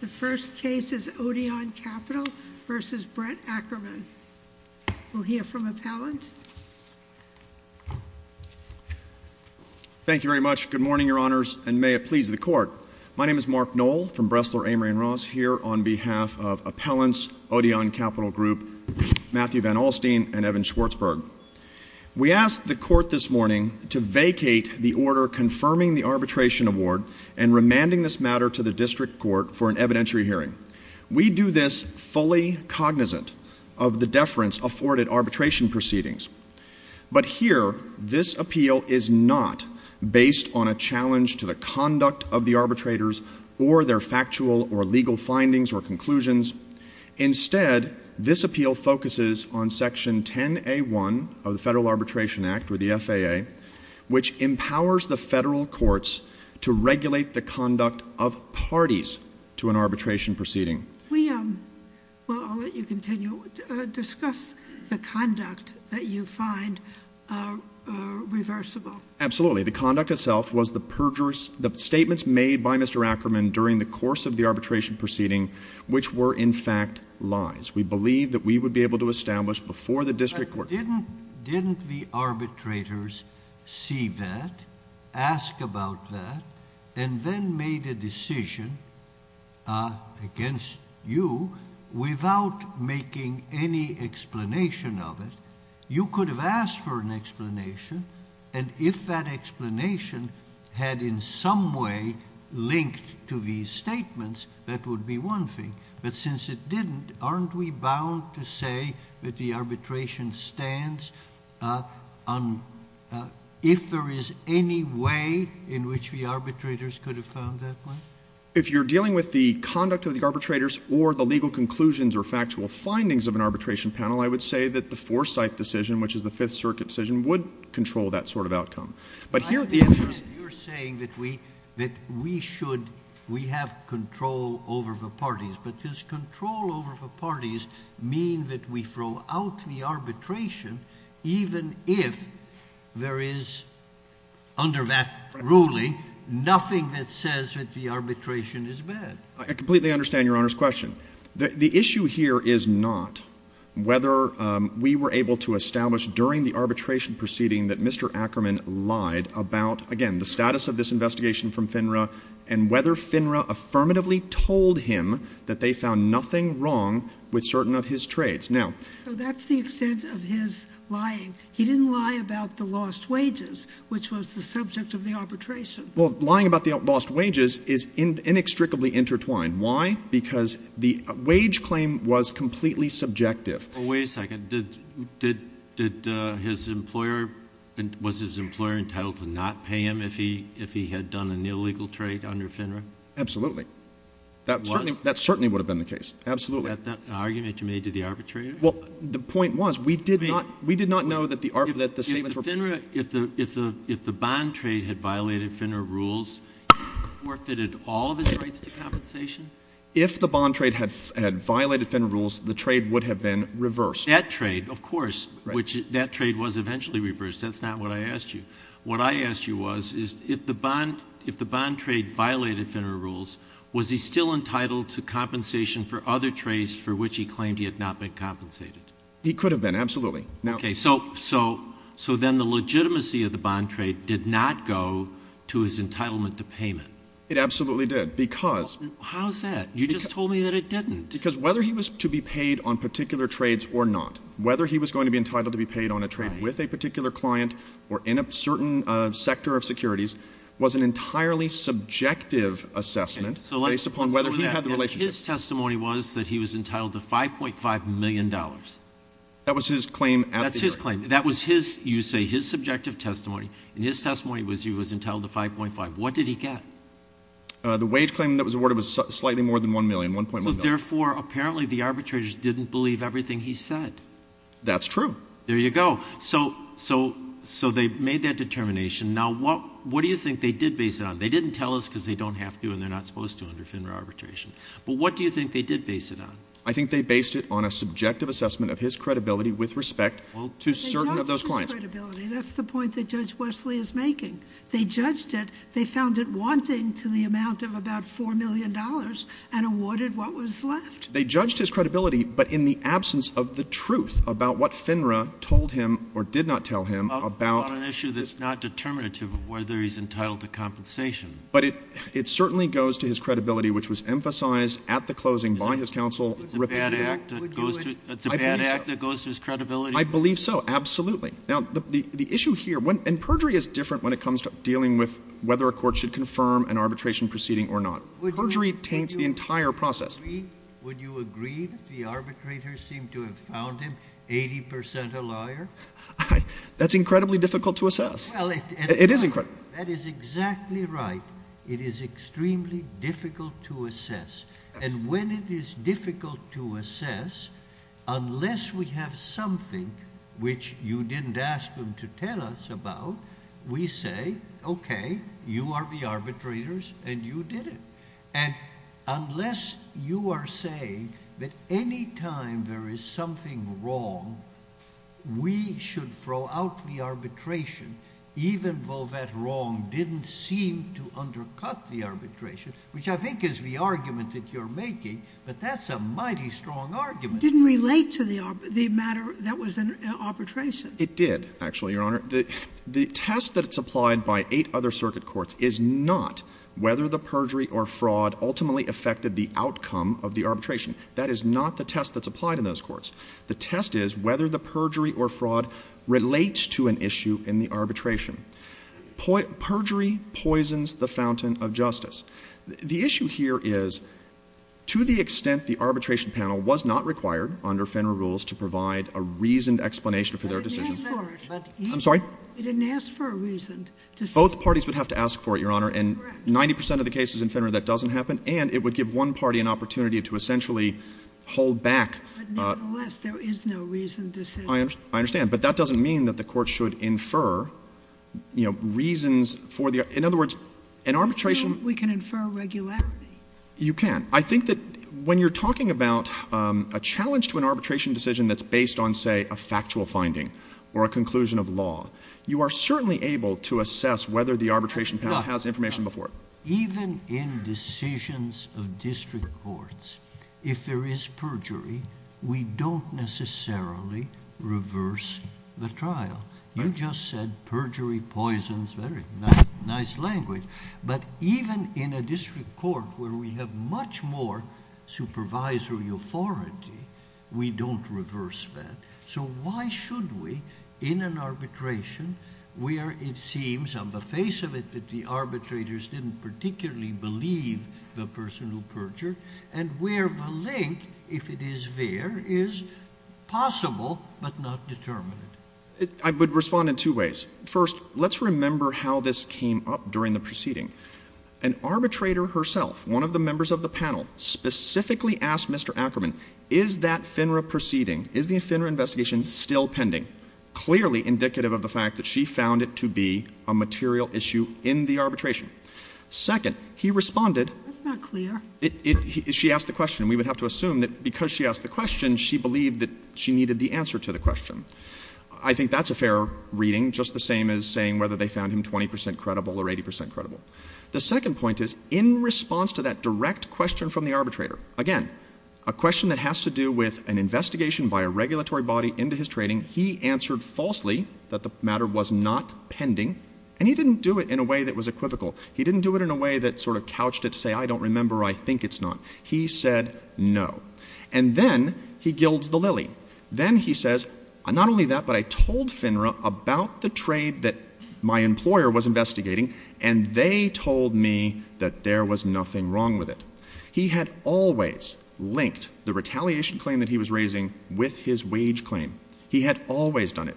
The first case is Odeon Capital v. Brett Ackerman. We'll hear from appellant. Thank you very much. Good morning, your honors, and may it please the court. My name is Mark Knoll from Bressler, Amory & Ross, here on behalf of Appellants, Odeon Capital Group, Matthew Van Alstine, and Evan Schwartzberg. We asked the court this morning to vacate the order confirming the arbitration award and remanding this matter to the district court for an evidentiary hearing. We do this fully cognizant of the deference afforded arbitration proceedings. But here, this appeal is not based on a challenge to the conduct of the arbitrators or their factual or legal findings or conclusions. Instead, this appeal focuses on section 10A1 of the Federal Arbitration Act or the conduct of parties to an arbitration proceeding. We, well, I'll let you continue, discuss the conduct that you find reversible. Absolutely, the conduct itself was the perjures, the statements made by Mr. Ackerman during the course of the arbitration proceeding, which were, in fact, lies. We believe that we would be able to establish before the district court- If someone made a decision against you without making any explanation of it, you could have asked for an explanation. And if that explanation had in some way linked to these statements, that would be one thing. But since it didn't, aren't we bound to say that the arbitration stands if there is any way in which the arbitrators could have found that way? If you're dealing with the conduct of the arbitrators or the legal conclusions or factual findings of an arbitration panel, I would say that the Forsyth decision, which is the Fifth Circuit decision, would control that sort of outcome. But here, the answer is- You're saying that we should, we have control over the parties. But does control over the parties mean that we throw out the arbitration even if there is, under that ruling, nothing that says that the arbitration is bad? I completely understand Your Honor's question. The issue here is not whether we were able to establish during the arbitration proceeding that Mr. Ackerman lied about, again, the status of this investigation from FINRA and whether FINRA affirmatively told him that they found nothing wrong with certain of his trades. Now- So that's the extent of his lying. He didn't lie about the lost wages, which was the subject of the arbitration. Well, lying about the lost wages is inextricably intertwined. Why? Because the wage claim was completely subjective. Well, wait a second. Did his employer, was his employer entitled to not pay him if he had done an illegal trade under FINRA? Absolutely. Was? That certainly would have been the case. Absolutely. Is that an argument you made to the arbitrator? Well, the point was, we did not know that the statements were- If the bond trade had violated FINRA rules, forfeited all of his rights to compensation? If the bond trade had violated FINRA rules, the trade would have been reversed. That trade, of course. That trade was eventually reversed. That's not what I asked you. What I asked you was, if the bond trade violated FINRA rules, was he still entitled to compensation for other trades for which he claimed he had not been compensated? He could have been. Absolutely. Now- Okay. So then the legitimacy of the bond trade did not go to his entitlement to payment? It absolutely did. Because- How's that? You just told me that it didn't. Because whether he was to be paid on particular trades or not, whether he was going to be entitled to be paid on a trade with a particular client or in a certain sector of securities was an entirely subjective assessment based upon whether he had the relationship. His testimony was that he was entitled to $5.5 million. That was his claim at the- That's his claim. That was his, you say, his subjective testimony, and his testimony was he was entitled to $5.5. What did he get? The wage claim that was awarded was slightly more than $1 million, $1.1 million. So therefore, apparently the arbitrators didn't believe everything he said. That's true. There you go. So, so, so they made that determination. Now what, what do you think they did base it on? They didn't tell us because they don't have to and they're not supposed to under FINRA arbitration. But what do you think they did base it on? I think they based it on a subjective assessment of his credibility with respect to certain But they judged his credibility. That's the point that Judge Wesley is making. They judged it. They found it wanting to the amount of about $4 million and awarded what was left. They judged his credibility, but in the absence of the truth about what FINRA told him or did not tell him about- About an issue that's not determinative of whether he's entitled to compensation. But it, it certainly goes to his credibility, which was emphasized at the closing by his counsel- It's a bad act that goes to, it's a bad act that goes to his credibility. I believe so. Absolutely. Now the, the issue here when, and perjury is different when it comes to dealing with whether a court should confirm an arbitration proceeding or not. Perjury taints the entire process. Would you agree that the arbitrators seem to have found him 80% a liar? That's incredibly difficult to assess. It is incredible. That is exactly right. It is extremely difficult to assess. And when it is difficult to assess, unless we have something which you didn't ask him to tell us about, we say, okay, you are the arbitrators and you did it. And unless you are saying that any time there is something wrong, we should throw out the argument that you're making, but that's a mighty strong argument. It didn't relate to the matter that was an arbitration. It did, actually, Your Honor. The test that's applied by eight other circuit courts is not whether the perjury or fraud ultimately affected the outcome of the arbitration. That is not the test that's applied in those courts. The test is whether the perjury or fraud relates to an issue in the arbitration. Perjury poisons the fountain of justice. The issue here is, to the extent the arbitration panel was not required under Fenner rules to provide a reasoned explanation for their decision. I'm sorry? They didn't ask for a reasoned decision. Both parties would have to ask for it, Your Honor. Correct. And 90% of the cases in Fenner that doesn't happen, and it would give one party an opportunity to essentially hold back. But nevertheless, there is no reasoned decision. I understand. But that doesn't mean that the court should infer, you know, reasons for the In other words, an arbitration We can infer regularity. You can. I think that when you're talking about a challenge to an arbitration decision that's based on, say, a factual finding or a conclusion of law, you are certainly able to assess whether the arbitration panel has information before it. in decisions of district courts, if there is perjury, we don't necessarily reverse the trial. You just said perjury poisons... very nice language. But even in a district court where we have much more supervisory authority, we don't reverse that. So why should we, in an arbitration, where it seems on the face of it that the person who perjured and where the link, if it is there, is possible but not determined? I would respond in two ways. First, let's remember how this came up during the proceeding. An arbitrator herself, one of the members of the panel, specifically asked Mr. Ackerman, is that FINRA proceeding, is the FINRA investigation still pending? Clearly indicative of the fact that she found it to be a material issue in the arbitration. Second, he responded... That's not clear. She asked the question. We would have to assume that because she asked the question, she believed that she needed the answer to the question. I think that's a fair reading, just the same as saying whether they found him 20 percent credible or 80 percent credible. The second point is, in response to that direct question from the arbitrator, again, a question that has to do with an investigation by a regulatory body into his trading, he answered falsely that the matter was not pending, and he didn't do it in a way that was equivocal. He didn't do it in a way that sort of couched it to say, I don't remember. I think it's not. He said no. And then he gilds the lily. Then he says, not only that, but I told FINRA about the trade that my employer was investigating, and they told me that there was nothing wrong with it. He had always linked the retaliation claim that he was raising with his wage claim. He had always done it.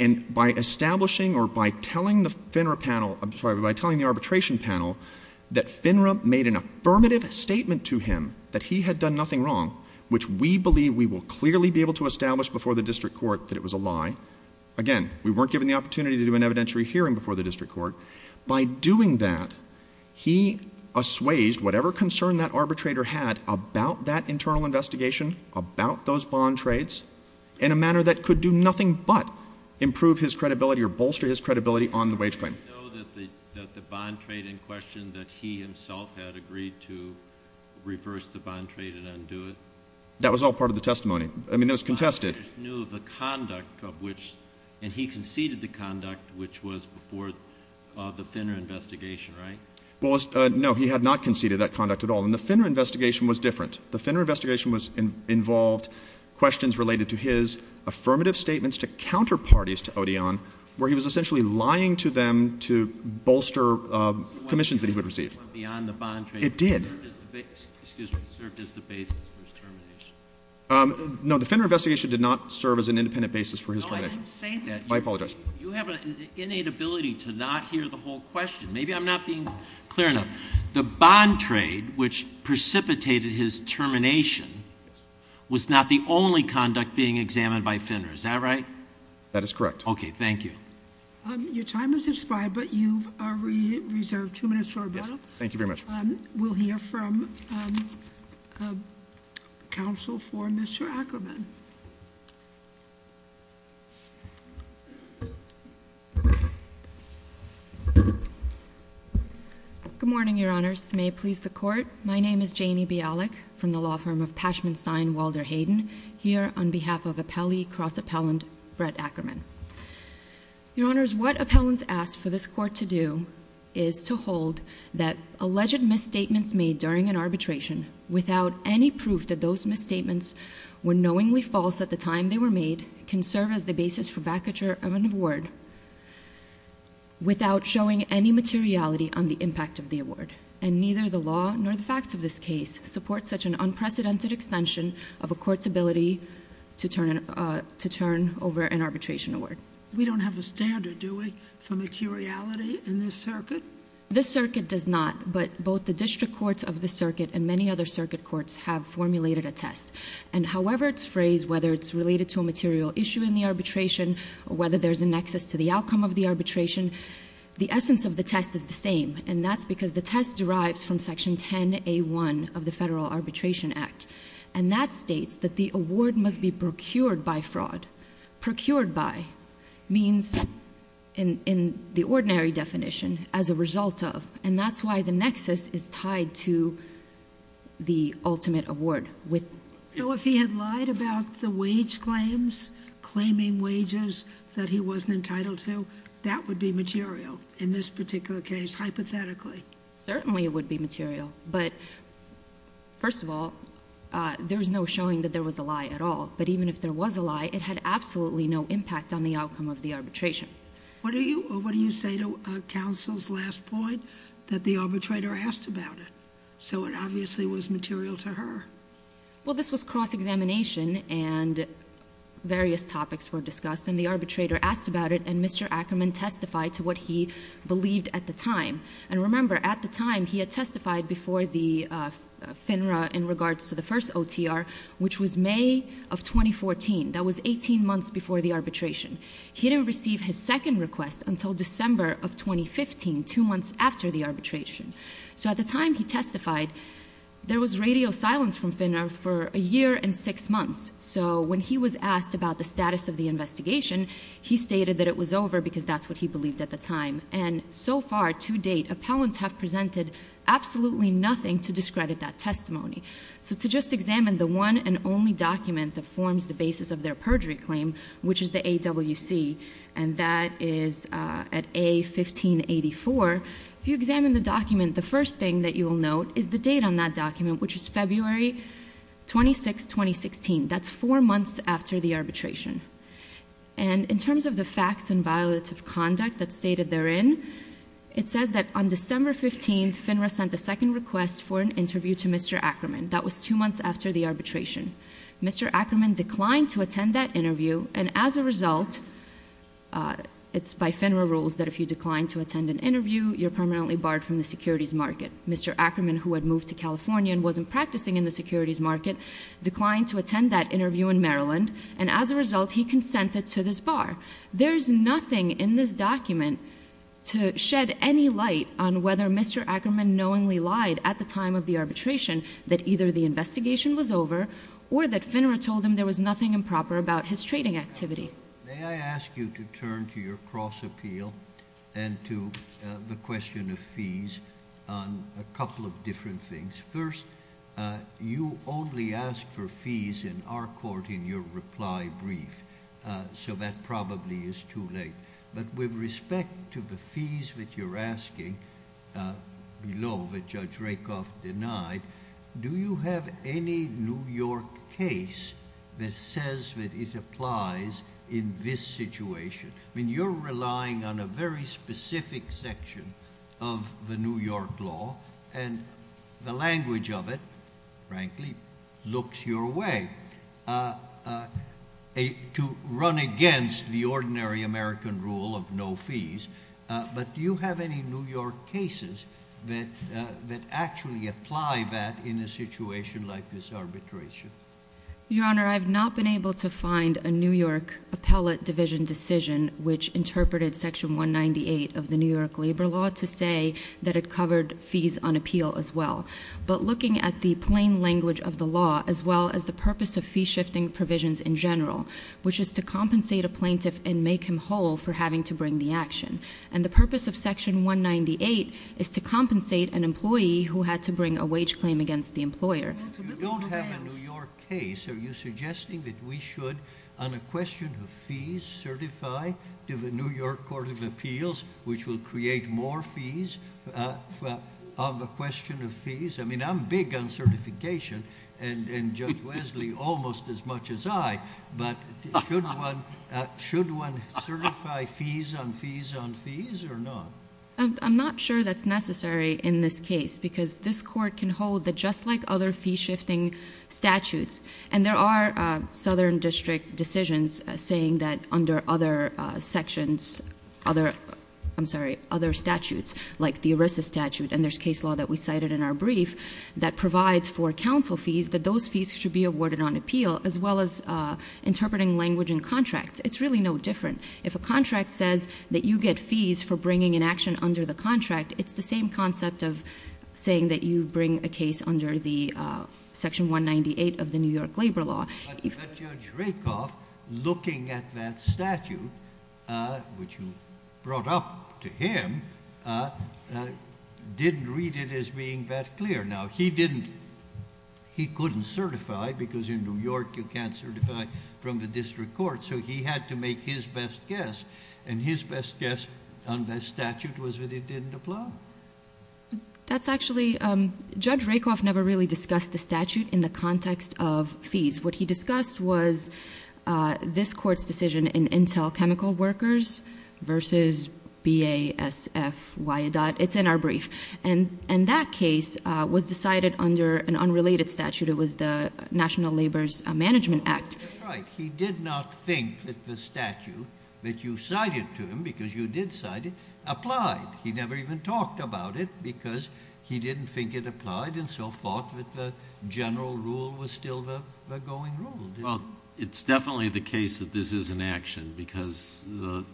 And by establishing or by telling the FINRA panel, I'm sorry, by telling the arbitration panel that FINRA made an affirmative statement to him that he had done nothing wrong, which we believe we will clearly be able to establish before the district court that it was a lie, again, we weren't given the opportunity to do an evidentiary hearing before the district court. By doing that, he assuaged whatever concern that arbitrator had about that internal investigation, about those bond trades, in a manner that could do nothing but improve his credibility or bolster his credibility on the wage claim. Did he know that the bond trade in question that he himself had agreed to reverse the bond trade and undo it? That was all part of the testimony. I mean, it was contested. But he just knew the conduct of which, and he conceded the conduct which was before the FINRA investigation, right? Well, no, he had not conceded that conduct at all. And the FINRA investigation was different. The FINRA investigation involved questions related to his affirmative statements to counterparties to Odeon, where he was essentially lying to them to bolster commissions that he would receive. It went beyond the bond trade. It did. It served as the basis for his termination. No, the FINRA investigation did not serve as an independent basis for his termination. No, I didn't say that. I apologize. You have an innate ability to not hear the whole question. Maybe I'm not being clear enough. The bond trade which precipitated his termination was not the only conduct being examined by FINRA. Is that right? That is correct. Okay, thank you. Your time has expired, but you are reserved two minutes for rebuttal. Thank you very much. We'll hear from counsel for Mr. Ackerman. Good morning, Your Honors. May it please the Court. My name is Janie Bialik from the law firm of Pashman Stein Walder Hayden. Here on behalf of appellee cross-appellant Brett Ackerman. Your Honors, what appellants ask for this Court to do is to hold that alleged misstatements made during an arbitration without any proof that those misstatements were knowingly false at the time they were made can serve as the basis for vacature of an award without showing any materiality on the impact of the award. And neither the law nor the facts of this case support such an unprecedented extension of a court's ability to turn over an arbitration award. We don't have a standard, do we, for materiality in this circuit? This circuit does not, but both the district courts of the circuit and many other circuit courts have formulated a test. And however it's phrased, whether it's related to a material issue in the arbitration or whether there's a nexus to the outcome of the arbitration, the essence of the test is the same. And that's because the test derives from Section 10A1 of the Federal Arbitration Act. And that states that the award must be procured by fraud. Procured by means, in the ordinary definition, as a result of. And that's why the nexus is tied to the ultimate award. So if he had lied about the wage claims, claiming wages that he wasn't entitled to, that would be material in this particular case, hypothetically? Certainly it would be material. But first of all, there's no showing that there was a lie at all. But even if there was a lie, it had absolutely no impact on the outcome of the arbitration. What do you say to counsel's last point, that the arbitrator asked about it? So it obviously was material to her. Well, this was cross-examination, and various topics were discussed. And the arbitrator asked about it, and Mr. Ackerman testified to what he believed at the time. And remember, at the time, he had testified before the FINRA in regards to the first OTR, which was May of 2014. That was 18 months before the arbitration. He didn't receive his second request until December of 2015, two months after the arbitration. So at the time he testified, there was radio silence from FINRA for a year and six months. So when he was asked about the status of the investigation, he stated that it was over, because that's what he believed at the time. And so far, to date, appellants have presented absolutely nothing to discredit that testimony. So to just examine the one and only document that forms the basis of their perjury claim, which is the AWC, and that is at A1584. If you examine the document, the first thing that you will note is the date on that document, which is February 26, 2016. That's four months after the arbitration. And in terms of the facts and violative conduct that's stated therein, it says that on December 15, FINRA sent a second request for an interview to Mr. Ackerman. That was two months after the arbitration. Mr. Ackerman declined to attend that interview. And as a result, it's by FINRA rules that if you decline to attend an interview, you're permanently barred from the securities market. Mr. Ackerman, who had moved to California and wasn't practicing in the securities market, declined to attend that interview in Maryland. And as a result, he consented to this bar. There's nothing in this document to shed any light on whether Mr. Ackerman knowingly lied at the time of the arbitration that either the investigation was over or that FINRA told him there was nothing improper about his trading activity. May I ask you to turn to your cross appeal and to the question of fees on a couple of different things. First, you only ask for fees in our court in your reply brief. So that probably is too late. But with respect to the fees that you're asking below that Judge Rakoff denied, do you have any New York case that says that it applies in this situation? I mean, you're relying on a very specific section of the New York law and the language of it, frankly, looks your way to run against the ordinary American rule of no fees. But do you have any New York cases that actually apply that in a situation like this arbitration? Your Honor, I've not been able to find a New York appellate division decision which interpreted section 198 of the New York labor law to say that it covered fees on appeal as well. But looking at the plain language of the law as well as the purpose of fee shifting provisions in general, which is to compensate a plaintiff and make him whole for having to bring the action. And the purpose of section 198 is to compensate an employee who had to bring a wage claim against the employer. You don't have a New York case. Are you suggesting that we should, on a question of fees, certify to the New York Court of Appeals, which will create more fees, on the question of fees? I mean, I'm big on certification and Judge Wesley almost as much as I. But should one certify fees on fees on fees or not? I'm not sure that's necessary in this case because this court can hold that just like other fee shifting statutes, and there are southern district decisions saying that under other sections, other, I'm sorry, other statutes, like the ERISA statute, and there's case law that we cited in our brief, that provides for council fees, that those fees should be awarded on appeal, as well as interpreting language in contracts. It's really no different. If a contract says that you get fees for bringing an action under the contract, it's the same concept of saying that you bring a case under the Section 198 of the New York Labor Law. But Judge Rakoff, looking at that statute, which you brought up to him, didn't read it as being that clear. Now, he couldn't certify, because in New York you can't certify from the district court. So he had to make his best guess, and his best guess on the statute was that it didn't apply. That's actually, Judge Rakoff never really discussed the statute in the context of fees. What he discussed was this court's decision in Intel Chemical Workers versus BASF Wyandotte. It's in our brief. And that case was decided under an unrelated statute. It was the National Labor's Management Act. Right, he did not think that the statute that you cited to him, because you did cite it, applied. He never even talked about it, because he didn't think it applied, and so forth, that the general rule was still the going rule, didn't he? It's definitely the case that this is an action, because the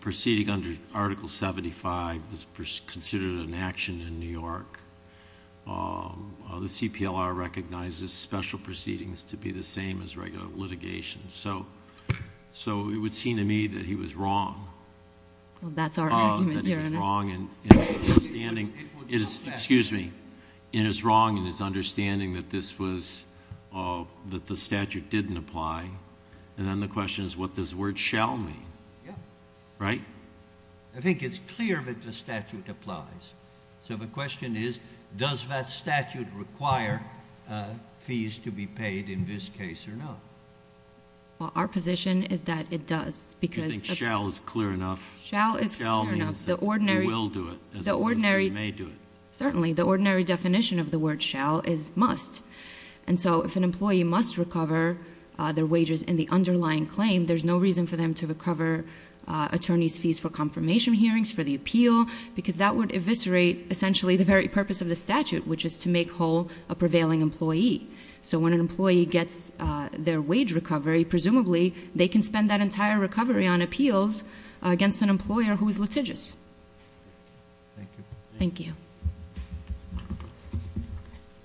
proceeding under Article 75 is considered an action in New York. The CPLR recognizes special proceedings to be the same as regular litigation. So it would seem to me that he was wrong. Well, that's our argument here, in a- That he was wrong in his understanding, excuse me. In his wrong in his understanding that this was, that the statute didn't apply. And then the question is, what does the word shall mean? Yeah. Right? I think it's clear that the statute applies. So the question is, does that statute require fees to be paid in this case or not? Well, our position is that it does, because- You think shall is clear enough? Shall is clear enough. The ordinary- He will do it, as opposed to he may do it. Certainly, the ordinary definition of the word shall is must. And so, if an employee must recover their wages in the underlying claim, there's no reason for them to recover attorney's fees for confirmation hearings, for the appeal. Because that would eviscerate, essentially, the very purpose of the statute, which is to make whole a prevailing employee. So when an employee gets their wage recovery, presumably, they can spend that entire recovery on appeals against an employer who is litigious. Thank you. Thank you.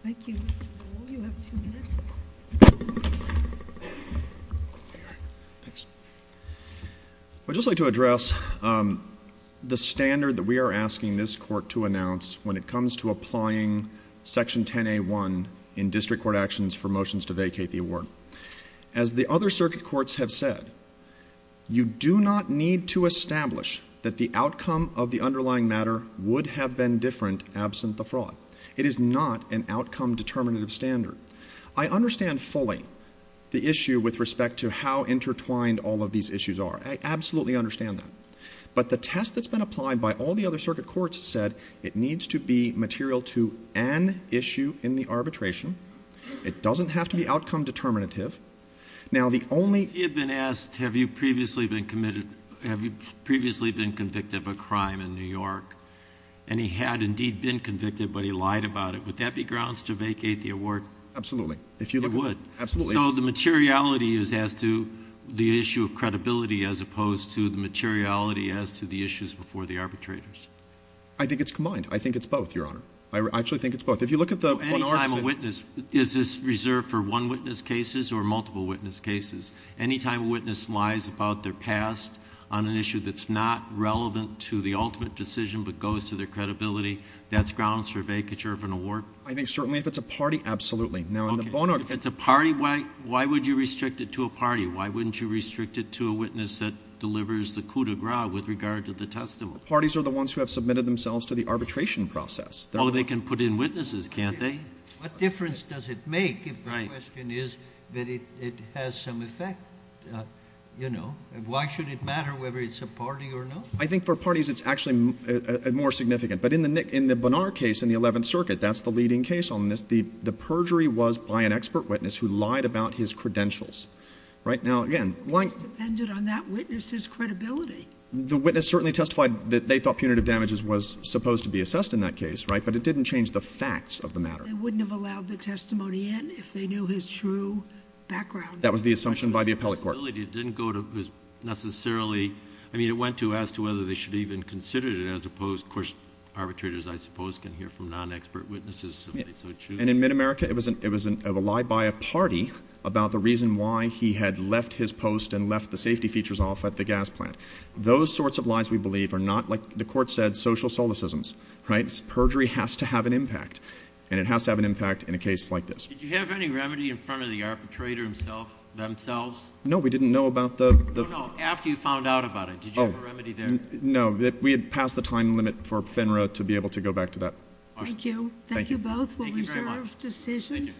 Thank you. Will you have two minutes? Thanks. I'd just like to address the standard that we are asking this court to announce when it comes to applying section 10A1 in district court actions for motions to vacate the award. As the other circuit courts have said, you do not need to establish that the outcome of the underlying matter would have been different absent the fraud. It is not an outcome determinative standard. I understand fully the issue with respect to how intertwined all of these issues are. I absolutely understand that. But the test that's been applied by all the other circuit courts said it needs to be material to an issue in the arbitration. It doesn't have to be outcome determinative. Now the only- You've been asked, have you previously been convicted of a crime in New York? And he had indeed been convicted, but he lied about it. Would that be grounds to vacate the award? Absolutely. If you look at- It would. Absolutely. So the materiality is as to the issue of credibility as opposed to the materiality as to the issues before the arbitrators. I think it's combined. I think it's both, your honor. I actually think it's both. If you look at the- Any time a witness, is this reserved for one witness cases or multiple witness cases? Any time a witness lies about their past on an issue that's not relevant to the ultimate decision but goes to their credibility, that's grounds for vacature of an award? I think certainly if it's a party, absolutely. Now in the bono- If it's a party, why would you restrict it to a party? Why wouldn't you restrict it to a witness that delivers the coup de grace with regard to the testimony? Parties are the ones who have submitted themselves to the arbitration process. They can put in witnesses, can't they? What difference does it make if the question is that it has some effect? Why should it matter whether it's a party or not? I think for parties it's actually more significant. But in the Bonnard case in the 11th circuit, that's the leading case on this. The perjury was by an expert witness who lied about his credentials, right? Now again, lying- It depended on that witness's credibility. The witness certainly testified that they thought punitive damages was supposed to be assessed in that case, right? But it didn't change the facts of the matter. They wouldn't have allowed the testimony in if they knew his true background. That was the assumption by the appellate court. The credibility didn't go to necessarily, I mean, it went to as to whether they should even consider it as opposed, of course, arbitrators, I suppose, can hear from non-expert witnesses if they so choose. And in mid-America, it was a lie by a party about the reason why he had left his post and left the safety features off at the gas plant. Those sorts of lies, we believe, are not, like the court said, social solacisms, right? Perjury has to have an impact, and it has to have an impact in a case like this. Did you have any remedy in front of the arbitrator himself, themselves? No, we didn't know about the- No, no, after you found out about it, did you have a remedy there? No, we had passed the time limit for FINRA to be able to go back to that. Thank you. We'll reserve decision. Thank you.